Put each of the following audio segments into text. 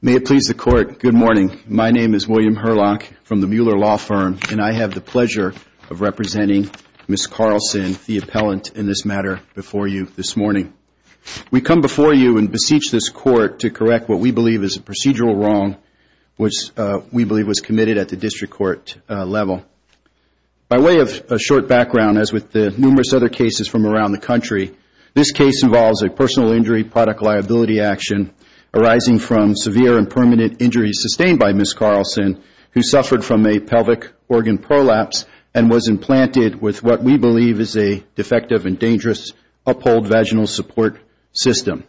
May it please the Court, good morning. My name is William Herlock from the Mueller Law Firm, and I have the pleasure of representing Ms. Carlson, the appellant, in this matter before you this morning. We come before you and beseech this Court to correct what we believe is a procedural wrong which we believe was committed at the District Court level. By way of a short background, as with the numerous other cases from around the country, this case involves a personal injury product liability action arising from severe and permanent injuries sustained by Ms. Carlson who suffered from a pelvic organ prolapse and was implanted with what we believe is a defective and dangerous uphold vaginal support system.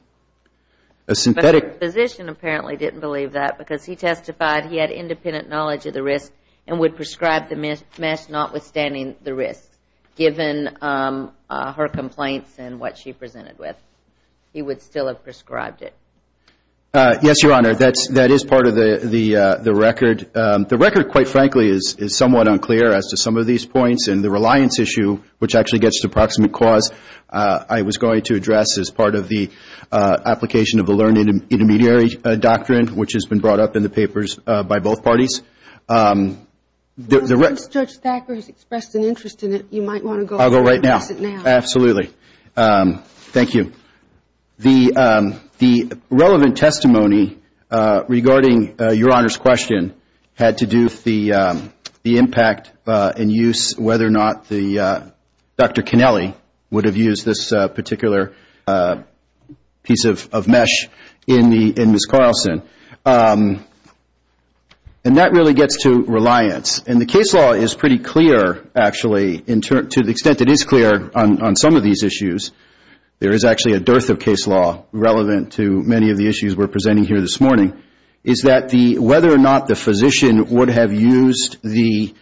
But her physician apparently didn't believe that because he testified he had independent knowledge of the risk and would prescribe the mesh notwithstanding the risk, given her complaints and what she presented with. He would still have prescribed it. Yes, Your Honor, that is part of the record. The record, quite frankly, is somewhat unclear as to some of these points, and the reliance issue, which actually gets to proximate cause, I was going to address as part of the application of the learned intermediary doctrine, which has been brought up in the papers by both parties. Since Judge Thacker has expressed an interest in it, you might want to go ahead and address it now. Absolutely. Thank you. The relevant testimony regarding Your Honor's question had to do with the impact and use, whether or not Dr. Connelly would have used this particular piece of mesh in Ms. Carlson. That really gets to reliance. The case law is pretty clear, actually, to the extent it is clear on some of these issues. There is actually a dearth of case law relevant to many of the issues we're presenting here this morning. Whether or not the physician would have used the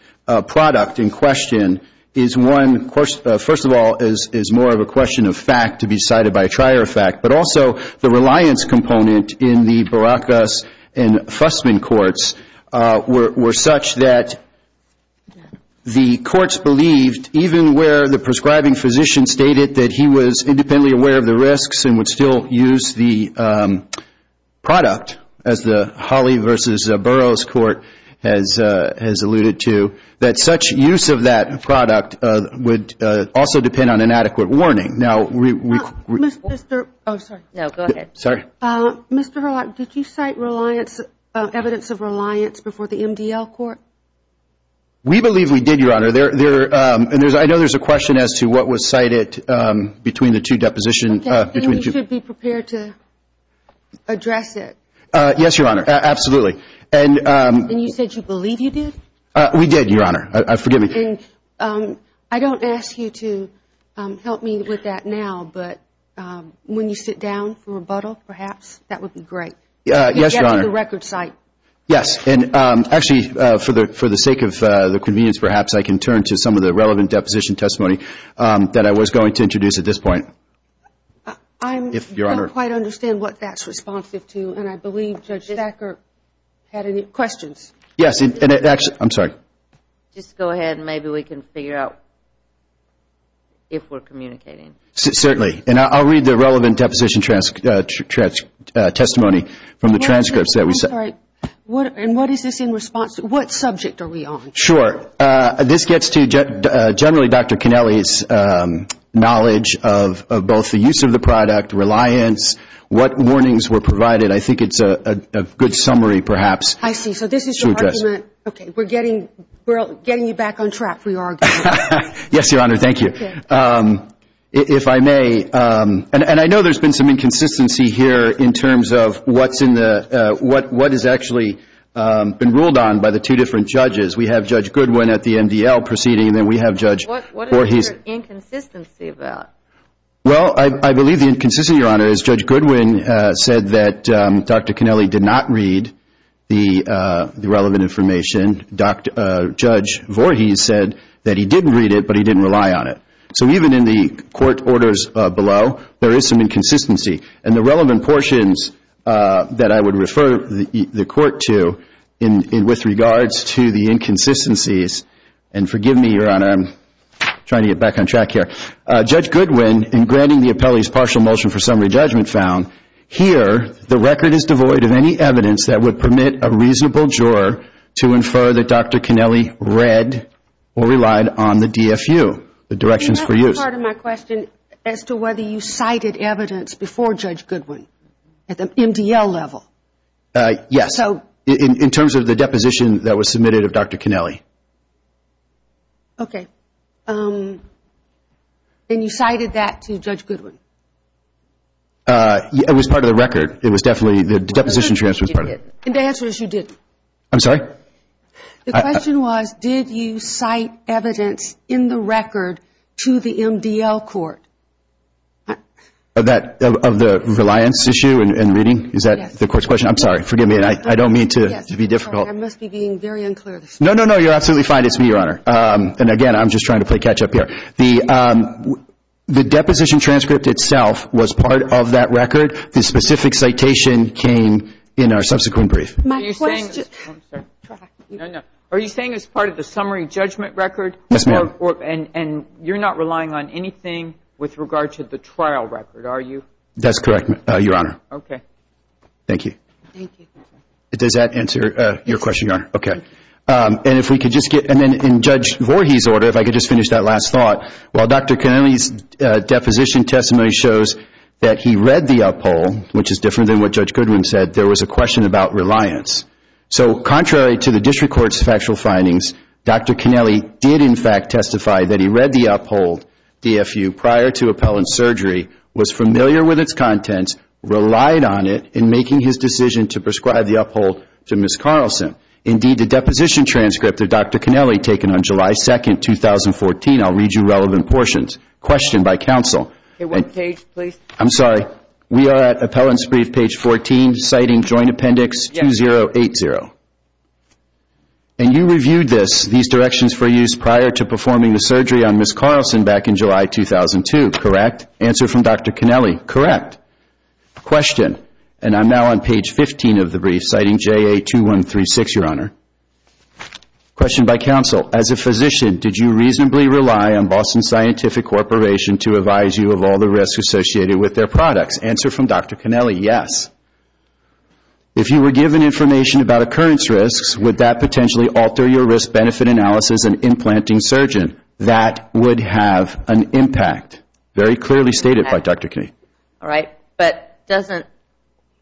product in question is one question. First of all, it is more of a question of fact to be decided by a trier of fact, but also the reliance component in the Barakas and Fussman courts were such that the courts believed, even where the prescribing physician stated that he was independently aware of the risks and would still use the product, as the Hawley v. Burroughs court has alluded to, that such use of that product would also depend on inadequate warning. Mr. Roth, did you cite evidence of reliance before the MDL court? We believe we did, Your Honor. I know there is a question as to what was cited between the two depositions. Then you should be prepared to address it. Yes, Your Honor. Absolutely. And you said you believe you did? We did, Your Honor. Forgive me. I don't ask you to help me with that now, but when you sit down for rebuttal, perhaps, that would be great. Yes, Your Honor. Get to the record site. Yes. Actually, for the sake of convenience, perhaps, I can turn to some of the relevant deposition testimony that I was going to introduce at this point. I don't quite understand what that's responsive to, and I believe Judge Thacker had any questions. Yes. I'm sorry. Just go ahead. Maybe we can figure out if we're communicating. Certainly. I'll read the relevant deposition testimony from the transcripts that we sent. I'm sorry. And what is this in response to? What subject are we on? Sure. This gets to, generally, Dr. Connelly's knowledge of both the use of the product, reliance, what warnings were provided. I think it's a good summary, perhaps. I see. So this is your argument. Okay. We're getting you back on track for your argument. Yes, Your Honor. Thank you. If I may, and I know there's been some inconsistency here in terms of what is actually been ruled on by the two different judges. We have Judge Goodwin at the MDL proceeding, and then we have Judge Voorhees. What is your inconsistency about? Well, I believe the inconsistency, Your Honor, is Judge Goodwin said that Dr. Connelly did not read the relevant information. Judge Voorhees said that he didn't read it, but he didn't rely on it. So even in the court orders below, there is some inconsistency. And the relevant portions that I would refer the court to with regards to the inconsistencies, and forgive me, Your Honor, I'm trying to get back on track here. Judge Goodwin, in granting the appellee's partial motion for summary judgment found, here the record is devoid of any evidence that would permit a reasonable juror to infer that Dr. Connelly read or relied on the DFU, the directions for use. That wasn't part of my question as to whether you cited evidence before Judge Goodwin at the MDL level. Yes, in terms of the deposition that was submitted of Dr. Connelly. Okay. And you cited that to Judge Goodwin? It was part of the record. The deposition transcript was part of it. And the answer is you didn't. I'm sorry? The question was did you cite evidence in the record to the MDL court? Of the reliance issue and reading? Is that the court's question? I'm sorry. Forgive me. I don't mean to be difficult. I must be being very unclear. No, no, no. You're absolutely fine. It's me, Your Honor. And, again, I'm just trying to play catch up here. The deposition transcript itself was part of that record. The specific citation came in our subsequent brief. My question. I'm sorry. No, no. Are you saying it was part of the summary judgment record? Yes, ma'am. And you're not relying on anything with regard to the trial record, are you? That's correct, Your Honor. Okay. Thank you. Thank you. Does that answer your question, Your Honor? Okay. And then in Judge Voorhees' order, if I could just finish that last thought, while Dr. Connelly's deposition testimony shows that he read the uphold, which is different than what Judge Goodwin said, there was a question about reliance. So contrary to the district court's factual findings, Dr. Connelly did, in fact, testify that he read the uphold DFU prior to appellant surgery, was familiar with its contents, relied on it, and making his decision to prescribe the uphold to Ms. Carlson. Indeed, the deposition transcript of Dr. Connelly taken on July 2, 2014, I'll read you relevant portions. Question by counsel. One page, please. I'm sorry. We are at appellant's brief, page 14, citing Joint Appendix 2080. Yes. And you reviewed these directions for use prior to performing the surgery on Ms. Carlson back in July 2002, correct? Answer from Dr. Connelly, correct. Question, and I'm now on page 15 of the brief, citing JA2136, Your Honor. Question by counsel. As a physician, did you reasonably rely on Boston Scientific Corporation to advise you of all the risks associated with their products? Answer from Dr. Connelly, yes. If you were given information about occurrence risks, would that potentially alter your risk-benefit analysis and implanting surgeon? That would have an impact. Very clearly stated by Dr. Connelly. All right. But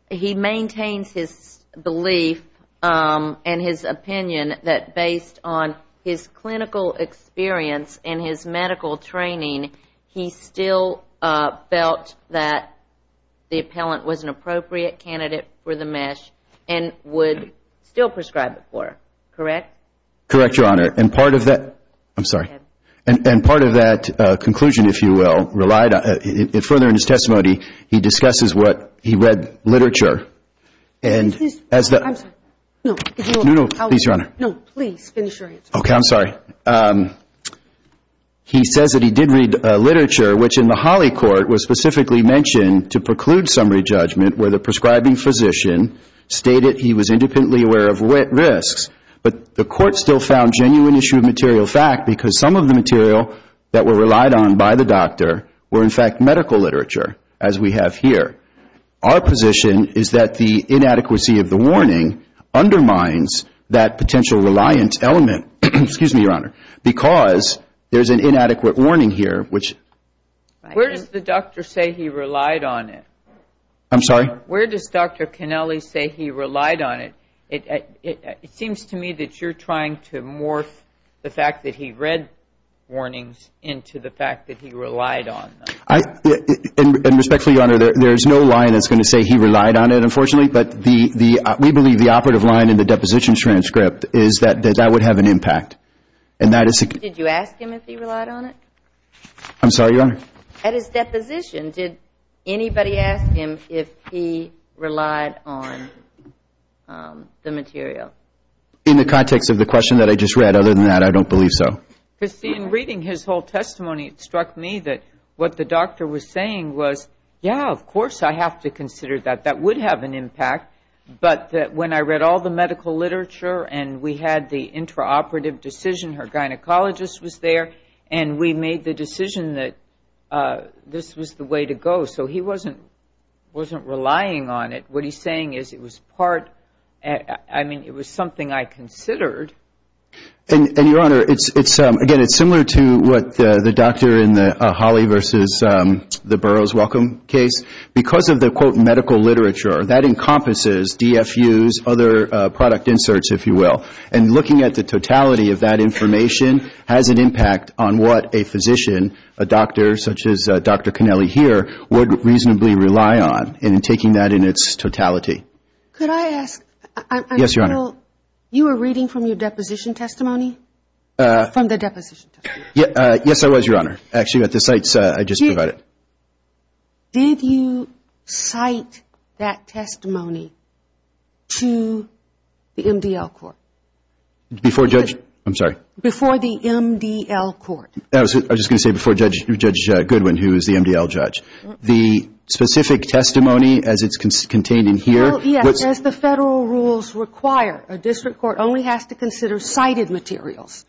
he maintains his belief and his opinion that based on his clinical experience and his medical training, he still felt that the appellant was an appropriate candidate for the mesh and would still prescribe it for her, correct? Correct, Your Honor. I'm sorry. And part of that conclusion, if you will, further in his testimony, he discusses what he read literature. I'm sorry. No, please, Your Honor. No, please finish your answer. Okay, I'm sorry. He says that he did read literature, which in the Holly Court was specifically mentioned to preclude summary judgment where the prescribing physician stated he was independently aware of risks, but the court still found genuine issue of material fact because some of the material that were relied on by the doctor were in fact medical literature, as we have here. Our position is that the inadequacy of the warning undermines that potential reliance element, because there's an inadequate warning here. Where does the doctor say he relied on it? I'm sorry? Where does Dr. Connelly say he relied on it? It seems to me that you're trying to morph the fact that he read warnings into the fact that he relied on them. And respectfully, Your Honor, there is no line that's going to say he relied on it, unfortunately, but we believe the operative line in the deposition transcript is that that would have an impact. Did you ask him if he relied on it? I'm sorry, Your Honor? At his deposition, did anybody ask him if he relied on the material? In the context of the question that I just read. Other than that, I don't believe so. Christine, reading his whole testimony, it struck me that what the doctor was saying was, yeah, of course I have to consider that. That would have an impact. But when I read all the medical literature and we had the intraoperative decision, her gynecologist was there, and we made the decision that this was the way to go. So he wasn't relying on it. What he's saying is it was part, I mean, it was something I considered. And, Your Honor, again, it's similar to what the doctor in the Holley versus the Burroughs welcome case. Because of the, quote, medical literature, that encompasses DFU's other product inserts, if you will. And looking at the totality of that information has an impact on what a physician, a doctor such as Dr. Connelly here, would reasonably rely on. And taking that in its totality. Could I ask? Yes, Your Honor. You were reading from your deposition testimony? From the deposition testimony. Yes, I was, Your Honor. Actually, at the sites I just provided. Did you cite that testimony to the MDL court? Before Judge, I'm sorry. Before the MDL court. I was just going to say before Judge Goodwin, who is the MDL judge. The specific testimony as it's contained in here. Well, yes, as the federal rules require, a district court only has to consider cited materials.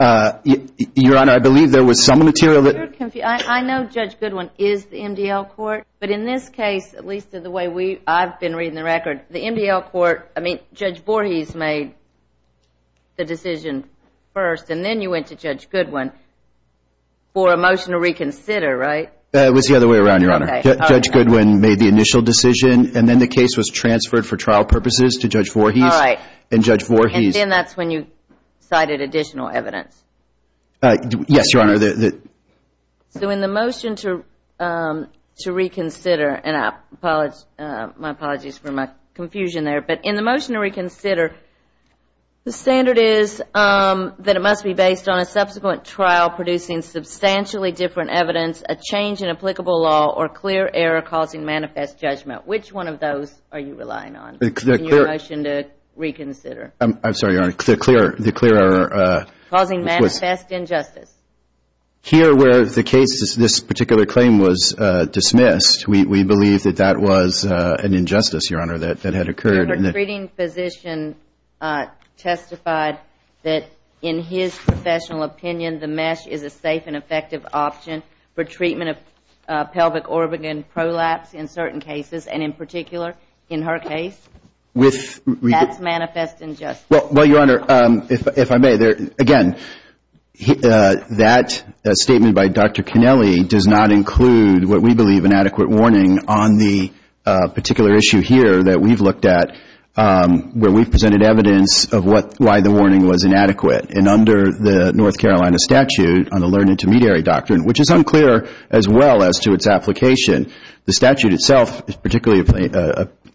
Your Honor, I believe there was some material that. I know Judge Goodwin is the MDL court. But in this case, at least in the way I've been reading the record, the MDL court, I mean, Judge Voorhees made the decision first. And then you went to Judge Goodwin for a motion to reconsider, right? It was the other way around, Your Honor. Judge Goodwin made the initial decision. And then the case was transferred for trial purposes to Judge Voorhees. All right. And Judge Voorhees. And then that's when you cited additional evidence. Yes, Your Honor. So in the motion to reconsider, and my apologies for my confusion there, but in the motion to reconsider, the standard is that it must be based on a subsequent trial producing substantially different evidence, a change in applicable law, or clear error causing manifest judgment. Which one of those are you relying on in your motion to reconsider? I'm sorry, Your Honor. The clear error. Causing manifest injustice. Here where the case, this particular claim was dismissed, we believe that that was an injustice, Your Honor, that had occurred. The treating physician testified that in his professional opinion, the mesh is a safe and effective option for treatment of pelvic orbic and prolapse in certain cases. And in particular, in her case, that's manifest injustice. Well, Your Honor, if I may, again, that statement by Dr. Connelly does not include what we believe an adequate warning on the particular issue here that we've looked at where we've presented evidence of why the warning was inadequate. And under the North Carolina statute on the learned intermediary doctrine, which is unclear as well as to its application, the statute itself particularly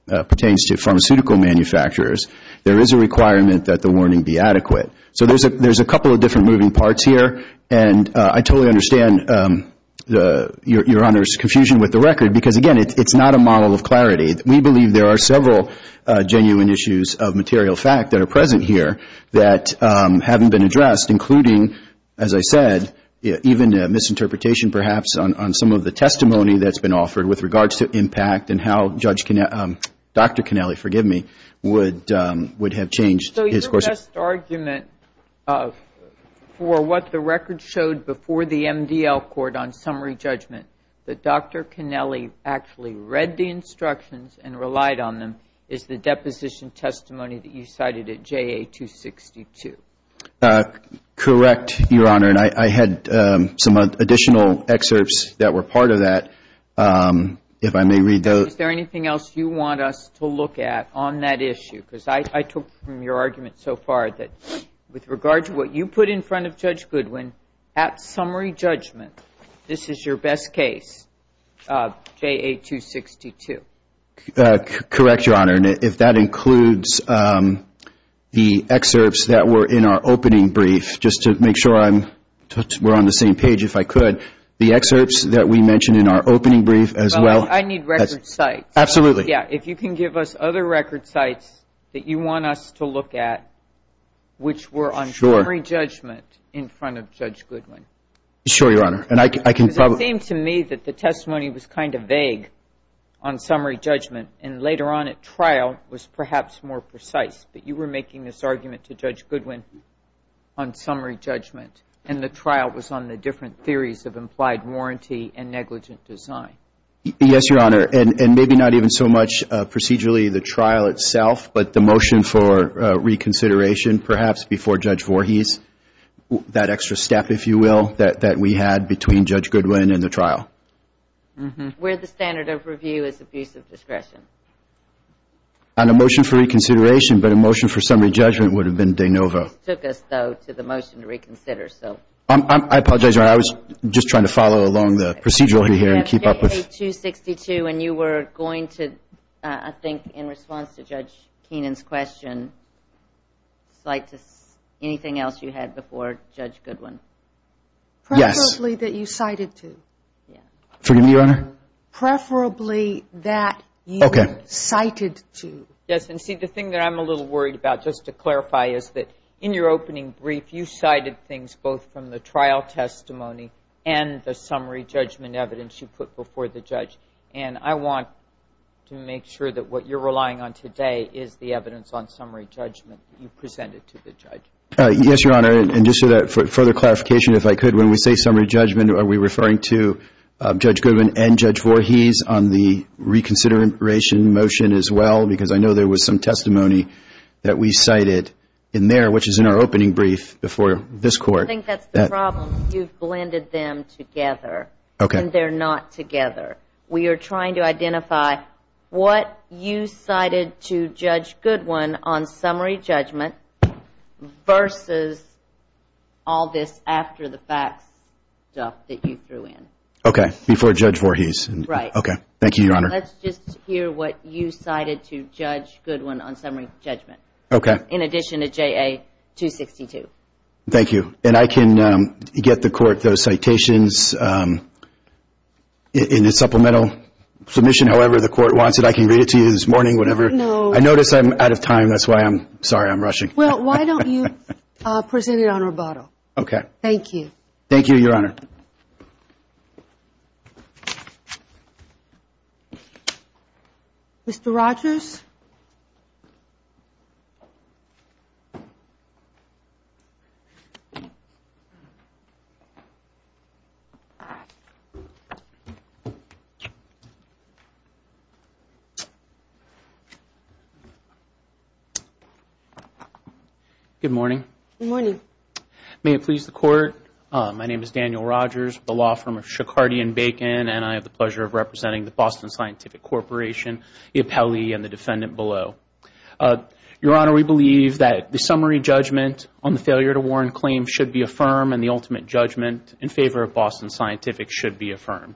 pertains to pharmaceutical manufacturers, there is a requirement that the warning be adequate. So there's a couple of different moving parts here. And I totally understand Your Honor's confusion with the record because, again, it's not a model of clarity. We believe there are several genuine issues of material fact that are present here that haven't been addressed, including, as I said, even a misinterpretation perhaps on some of the testimony that's been offered with regards to impact and how Dr. Connelly, forgive me, would have changed his course. So your best argument for what the record showed before the MDL court on summary judgment, that Dr. Connelly actually read the instructions and relied on them, is the deposition testimony that you cited at JA-262. Correct, Your Honor. And I had some additional excerpts that were part of that, if I may read those. Is there anything else you want us to look at on that issue? Because I took from your argument so far that with regards to what you put in front of Judge Goodwin at summary judgment, this is your best case, JA-262. Correct, Your Honor. And if that includes the excerpts that were in our opening brief, just to make sure we're on the same page if I could, the excerpts that we mentioned in our opening brief as well. Well, I need record sites. Absolutely. Yeah, if you can give us other record sites that you want us to look at which were on summary judgment in front of Judge Goodwin. Sure, Your Honor. Because it seemed to me that the testimony was kind of vague on summary judgment and later on at trial was perhaps more precise, but you were making this argument to Judge Goodwin on summary judgment and the trial was on the different theories of implied warranty and negligent design. Yes, Your Honor. And maybe not even so much procedurally the trial itself, but the motion for reconsideration perhaps before Judge Voorhees, that extra step, if you will, that we had between Judge Goodwin and the trial. Where the standard of review is abuse of discretion. On a motion for reconsideration, but a motion for summary judgment would have been de novo. It took us, though, to the motion to reconsider, so. I apologize, Your Honor. I was just trying to follow along the procedural here and keep up with. You have K.A. 262 and you were going to, I think, in response to Judge Keenan's question, cite anything else you had before Judge Goodwin. Yes. Preferably that you cited to. Forgive me, Your Honor? Preferably that you cited to. Yes. And see, the thing that I'm a little worried about, just to clarify, is that in your opening brief you cited things both from the trial testimony and the summary judgment evidence you put before the judge. And I want to make sure that what you're relying on today is the evidence on summary judgment that you presented to the judge. Yes, Your Honor. And just for further clarification, if I could, when we say summary judgment, are we referring to Judge Goodwin and Judge Voorhees on the reconsideration motion as well? Because I know there was some testimony that we cited in there, which is in our opening brief before this Court. I think that's the problem. You've blended them together. Okay. And they're not together. We are trying to identify what you cited to Judge Goodwin on summary judgment versus all this after-the-facts stuff that you threw in. Okay, before Judge Voorhees. Right. Okay. Thank you, Your Honor. Let's just hear what you cited to Judge Goodwin on summary judgment. Okay. In addition to JA-262. Thank you. And I can get the Court those citations in a supplemental submission, however the Court wants it. I can read it to you this morning, whenever. No. I notice I'm out of time. That's why I'm sorry I'm rushing. Well, why don't you present it on rebuttal? Okay. Thank you. Thank you, Your Honor. Mr. Rogers? Good morning. Good morning. May it please the Court, my name is Daniel Rogers with the law firm of Shekhardy & Bacon, and I have the pleasure of representing the Boston Scientific Corporation, the appellee and the defendant below. Your Honor, we believe that the summary judgment on the failure to warn claim should be affirmed and the ultimate judgment in favor of Boston Scientific should be affirmed.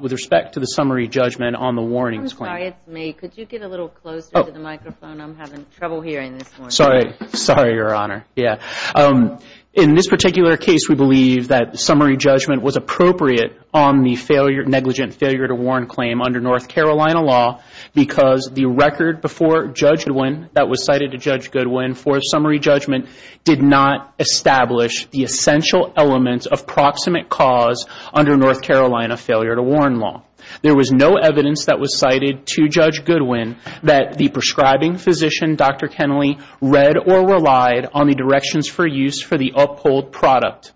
With respect to the summary judgment on the warnings claim. I'm sorry, it's me. Could you get a little closer to the microphone? I'm having trouble hearing this morning. Sorry. Sorry, Your Honor. Yeah. In this particular case, we believe that summary judgment was appropriate on the negligent failure to warn claim under North Carolina law because the record before Judge Goodwin that was cited to Judge Goodwin for summary judgment did not establish the essential elements of proximate cause under North Carolina failure to warn law. There was no evidence that was cited to Judge Goodwin that the prescribing physician, Dr. Kennelly, read or relied on the directions for use for the uphold product.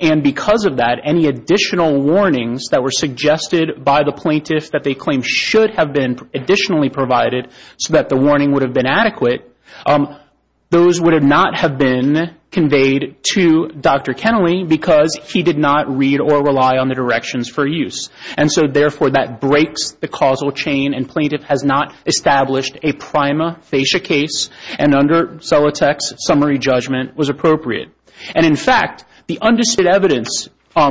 And because of that, any additional warnings that were suggested by the plaintiff that they claimed should have been additionally provided so that the warning would have been adequate, those would not have been conveyed to Dr. Kennelly because he did not read or rely on the directions for use. And so, therefore, that breaks the causal chain and plaintiff has not established a prima facie case and under Zolotek's summary judgment was appropriate. And, in fact, the undisputed evidence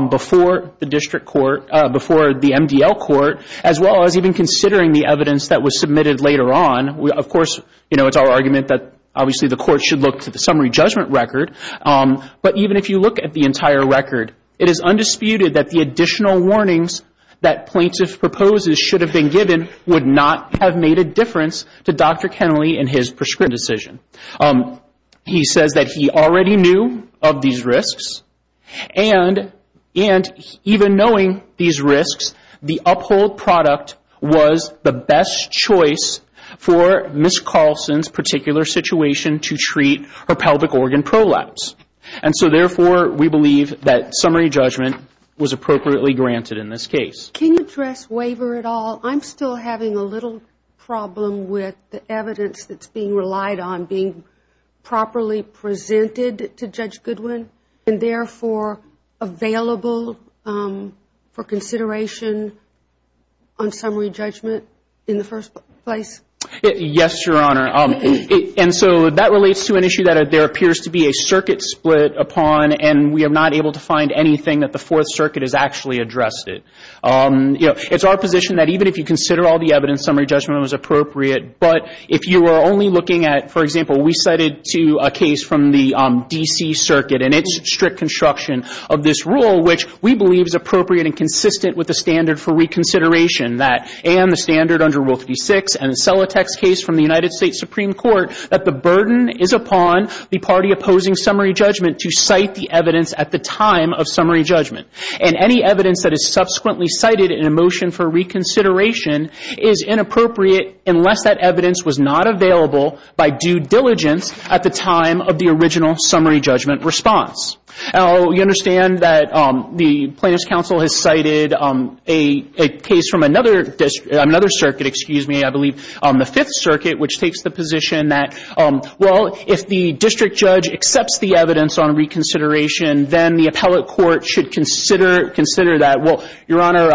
before the district court, before the MDL court, as well as even considering the evidence that was submitted later on, of course, it's our argument that obviously the court should look to the summary judgment record. But even if you look at the entire record, it is undisputed that the additional warnings that plaintiff proposes should have been given would not have made a difference to Dr. Kennelly in his prescription decision. He says that he already knew of these risks and even knowing these risks, the uphold product was the best choice for Ms. Carlson's particular situation to treat her pelvic organ prolapse. And so, therefore, we believe that summary judgment was appropriately granted in this case. Can you address waiver at all? I'm still having a little problem with the evidence that's being relied on being properly presented to Judge Goodwin and, therefore, available for consideration on summary judgment in the first place. Yes, Your Honor. And so that relates to an issue that there appears to be a circuit split upon and we are not able to find anything that the Fourth Circuit has actually addressed it. You know, it's our position that even if you consider all the evidence, summary judgment was appropriate. But if you are only looking at, for example, we cited to a case from the D.C. Circuit and its strict construction of this rule, which we believe is appropriate and consistent with the standard for reconsideration that and the standard under Rule 36 and Celotek's case from the United States Supreme Court, that the burden is upon the party opposing summary judgment to cite the evidence at the time of summary judgment. And any evidence that is subsequently cited in a motion for reconsideration is inappropriate unless that evidence was not available by due diligence at the time of the original summary judgment response. Now, you understand that the Plaintiffs' Counsel has cited a case from another circuit, excuse me, I believe, the Fifth Circuit, which takes the position that, well, if the district judge accepts the evidence on reconsideration, then the appellate court should consider that. Well, Your Honor,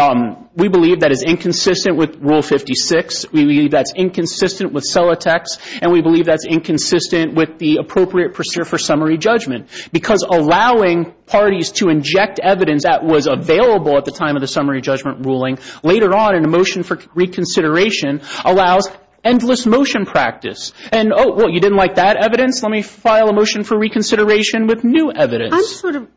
we believe that is inconsistent with Rule 56. We believe that's inconsistent with Celotek's. And we believe that's inconsistent with the appropriate procedure for summary judgment because allowing parties to inject evidence that was available at the time of the summary judgment ruling later on in a motion for reconsideration allows endless motion practice. And, oh, well, you didn't like that evidence? Let me file a motion for reconsideration with new evidence. I'm sort of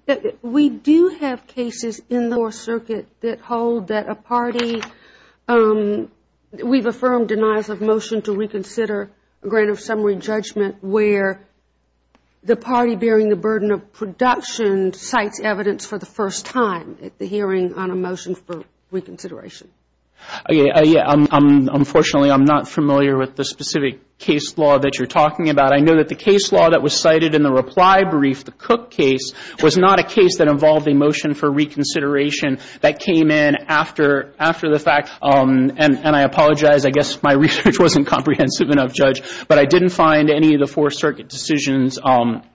we do have cases in the Fourth Circuit that hold that a party, we've affirmed denials of motion to reconsider a grant of summary judgment where the party bearing the burden of production and cites evidence for the first time at the hearing on a motion for reconsideration. Unfortunately, I'm not familiar with the specific case law that you're talking about. I know that the case law that was cited in the reply brief, the Cook case, was not a case that involved a motion for reconsideration that came in after the fact. And I apologize, I guess my research wasn't comprehensive enough, Judge, but I didn't find any of the Fourth Circuit decisions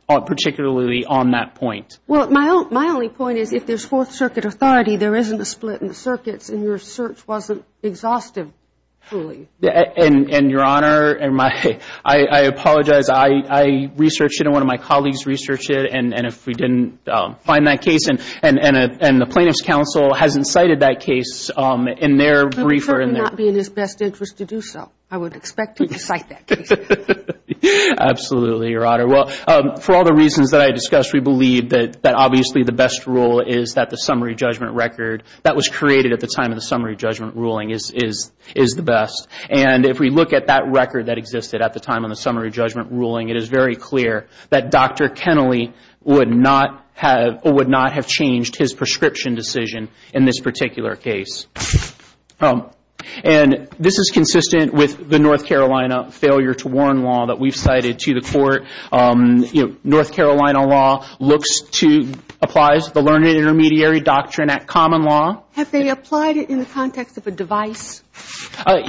particularly on that point. Well, my only point is if there's Fourth Circuit authority, there isn't a split in the circuits, and your search wasn't exhaustive, truly. And, Your Honor, I apologize. I researched it and one of my colleagues researched it, and if we didn't find that case, and the Plaintiff's Counsel hasn't cited that case in their brief or in their- Absolutely, Your Honor. Well, for all the reasons that I discussed, we believe that obviously the best rule is that the summary judgment record that was created at the time of the summary judgment ruling is the best. And if we look at that record that existed at the time of the summary judgment ruling, it is very clear that Dr. Kennelly would not have changed his prescription decision in this particular case. And this is consistent with the North Carolina failure to warn law that we've cited to the court. You know, North Carolina law looks to-applies the learned intermediary doctrine at common law. Have they applied it in the context of a device?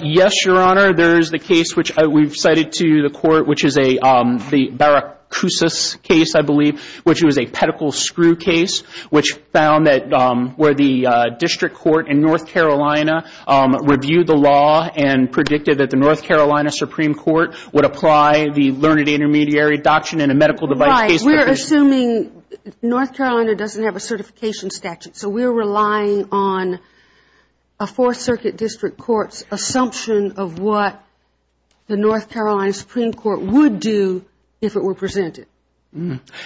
Yes, Your Honor. There is the case which we've cited to the court, which is the Baracusas case, I believe, which was a pedicle screw case, which found that where the district court in North Carolina reviewed the law and predicted that the North Carolina Supreme Court would apply the learned intermediary doctrine in a medical device case. Right. We're assuming North Carolina doesn't have a certification statute, so we're relying on a Fourth Circuit district court's assumption of what the North Carolina Supreme Court would do if it were presented.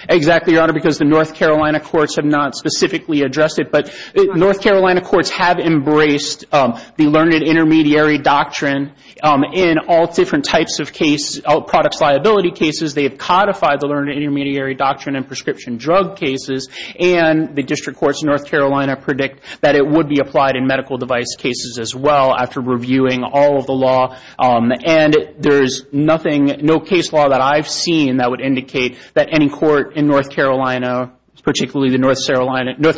Exactly, Your Honor, because the North Carolina courts have not specifically addressed it. But North Carolina courts have embraced the learned intermediary doctrine in all different types of case, products liability cases. They have codified the learned intermediary doctrine in prescription drug cases. And the district courts in North Carolina predict that it would be applied in medical device cases as well after reviewing all of the law. And there is nothing, no case law that I've seen that would indicate that any court in North Carolina, particularly the North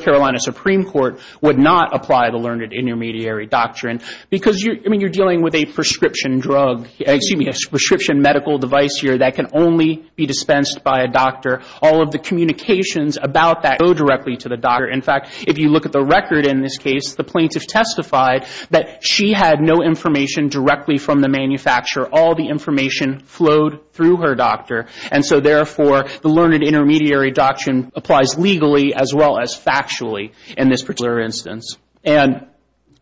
Carolina Supreme Court, would not apply the learned intermediary doctrine. Because you're dealing with a prescription drug, excuse me, a prescription medical device here that can only be dispensed by a doctor. All of the communications about that go directly to the doctor. In fact, if you look at the record in this case, the plaintiff testified that she had no information directly from the manufacturer. All the information flowed through her doctor. And so, therefore, the learned intermediary doctrine applies legally as well as factually in this particular instance.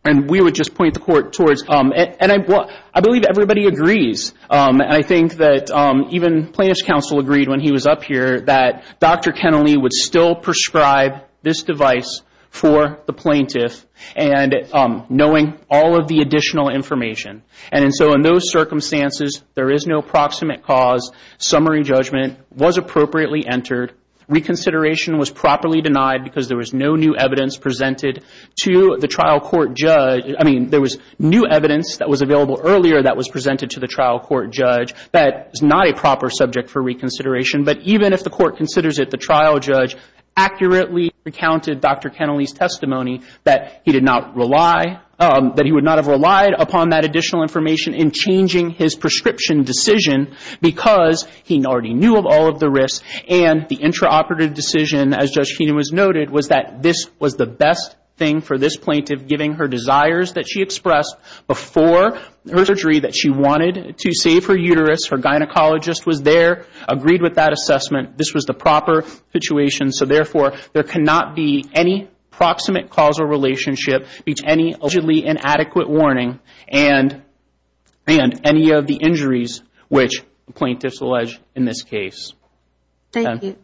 And we would just point the court towards it. And I believe everybody agrees, and I think that even plaintiff's counsel agreed when he was up here, that Dr. Kennelly would still prescribe this device for the plaintiff and knowing all of the additional information. And so in those circumstances, there is no proximate cause. Summary judgment was appropriately entered. Reconsideration was properly denied because there was no new evidence presented to the trial court judge. I mean, there was new evidence that was available earlier that was presented to the trial court judge that is not a proper subject for reconsideration. But even if the court considers it, the trial judge accurately recounted Dr. Kennelly's testimony that he did not rely, that he would not have relied upon that additional information in changing his prescription decision because he already knew of all of the risks. And the intraoperative decision, as Judge Keenan has noted, was that this was the best thing for this plaintiff, giving her desires that she expressed before her surgery that she wanted to save her uterus. Her gynecologist was there, agreed with that assessment. This was the proper situation. So, therefore, there cannot be any proximate causal relationship between any allegedly inadequate warning and any of the injuries which the plaintiff alleged in this case. Thank you.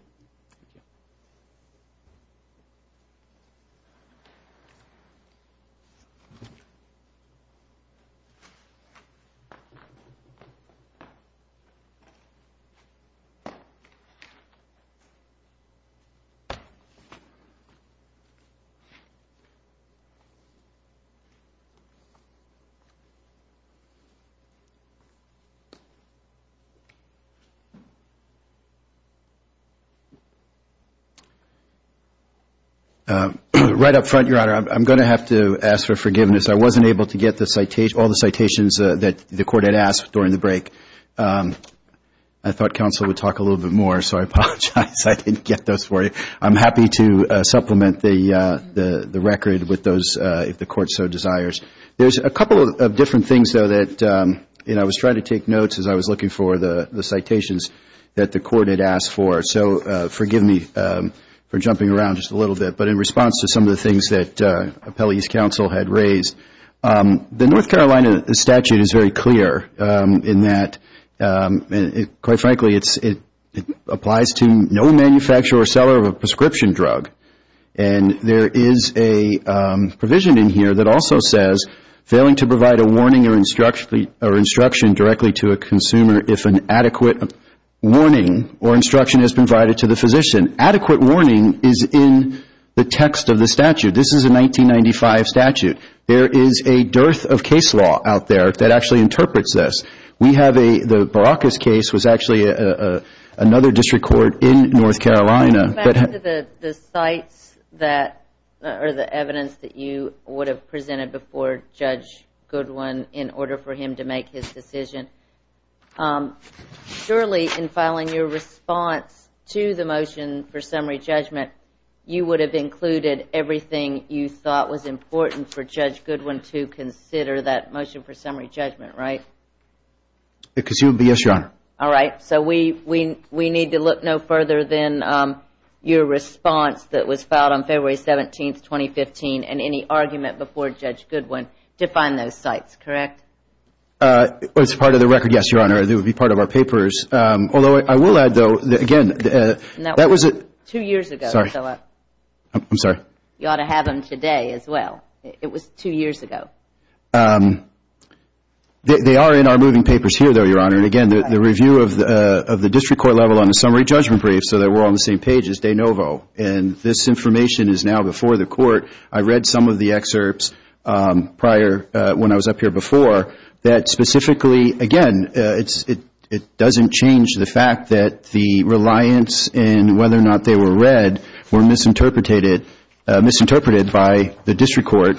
Right up front, Your Honor, I'm going to have to ask for forgiveness. I wasn't able to get all the citations that the court had asked during the break. I thought counsel would talk a little bit more, so I apologize. I didn't get those for you. I'm happy to supplement the record with those, if the court so desires. There's a couple of different things, though, that, you know, I was trying to take notes as I was looking for the citations that the court had asked for. So forgive me for jumping around just a little bit. But in response to some of the things that appellee's counsel had raised, the North Carolina statute is very clear in that, quite frankly, it applies to no manufacturer or seller of a prescription drug. And there is a provision in here that also says, failing to provide a warning or instruction directly to a consumer if an adequate warning or instruction has been provided to the physician. Adequate warning is in the text of the statute. This is a 1995 statute. There is a dearth of case law out there that actually interprets this. The Baracus case was actually another district court in North Carolina. Back to the sites that are the evidence that you would have presented before Judge Goodwin in order for him to make his decision. Surely, in filing your response to the motion for summary judgment, you would have included everything you thought was important for Judge Goodwin to consider that motion for summary judgment, right? Yes, Your Honor. All right. So we need to look no further than your response that was filed on February 17, 2015, and any argument before Judge Goodwin to find those sites, correct? It's part of the record, yes, Your Honor. It would be part of our papers. Although I will add, though, again, that was a Two years ago, Philip. I'm sorry. You ought to have them today as well. It was two years ago. They are in our moving papers here, though, Your Honor. And again, the review of the district court level on the summary judgment brief, so that we're all on the same page, is de novo. And this information is now before the court. It doesn't change the fact that the reliance in whether or not they were read were misinterpreted by the district court,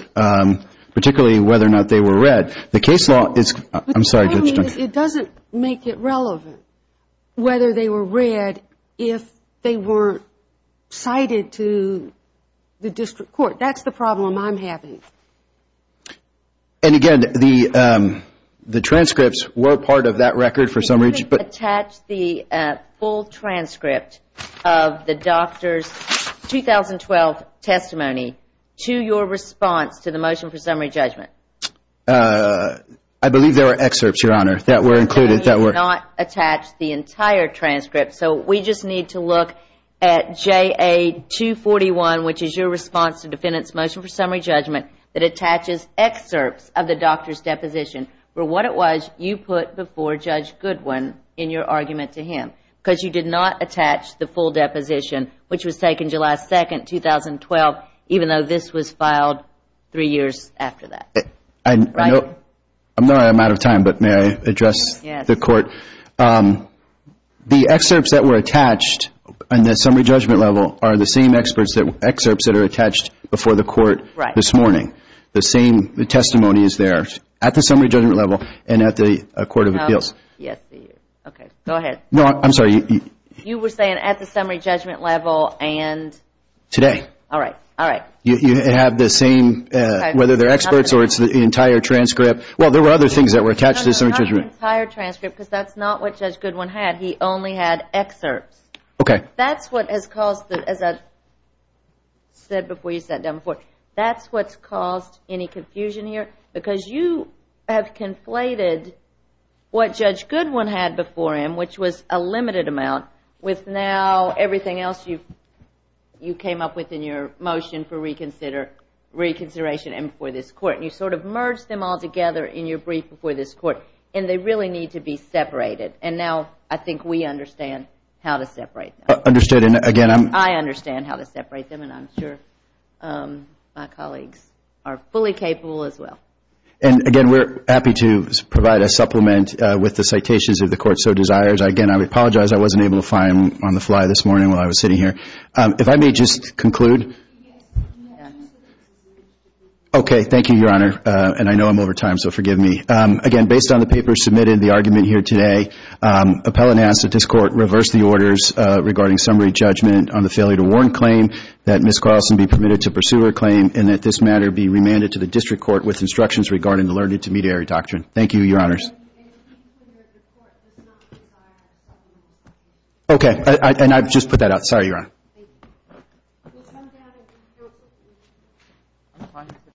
particularly whether or not they were read. The case law is – I'm sorry. It doesn't make it relevant whether they were read if they weren't cited to the district court. That's the problem I'm having. And again, the transcripts were part of that record for summary judgment. You didn't attach the full transcript of the doctor's 2012 testimony to your response to the motion for summary judgment. I believe there were excerpts, Your Honor, that were included. No, you did not attach the entire transcript. So we just need to look at JA241, which is your response to defendant's motion for summary judgment, that attaches excerpts of the doctor's deposition for what it was you put before Judge Goodwin in your argument to him. Because you did not attach the full deposition, which was taken July 2, 2012, even though this was filed three years after that. I'm sorry I'm out of time, but may I address the court? Yes. The excerpts that were attached on the summary judgment level are the same excerpts that are attached before the court this morning. The testimony is there at the summary judgment level and at the court of appeals. Yes, it is. Okay, go ahead. No, I'm sorry. You were saying at the summary judgment level and... Today. All right, all right. You have the same, whether they're excerpts or it's the entire transcript. Well, there were other things that were attached to the summary judgment. No, not the entire transcript, because that's not what Judge Goodwin had. He only had excerpts. Okay. That's what has caused, as I said before you sat down before, that's what's caused any confusion here, because you have conflated what Judge Goodwin had before him, which was a limited amount, with now everything else you came up with in your motion for reconsideration and before this court. You sort of merged them all together in your brief before this court, and they really need to be separated. And now I think we understand how to separate them. Understood. I understand how to separate them, and I'm sure my colleagues are fully capable as well. Again, we're happy to provide a supplement with the citations if the court so desires. Again, I apologize. I wasn't able to find them on the fly this morning while I was sitting here. If I may just conclude. Yes. Okay, thank you, Your Honor, and I know I'm over time, so forgive me. Again, based on the papers submitted and the argument here today, appellant asks that this court reverse the orders regarding summary judgment on the failure to warrant claim, that Ms. Carlson be permitted to pursue her claim, and that this matter be remanded to the district court with instructions regarding the learned intermediary doctrine. Thank you, Your Honors. Okay, and I've just put that out. Sorry, Your Honor.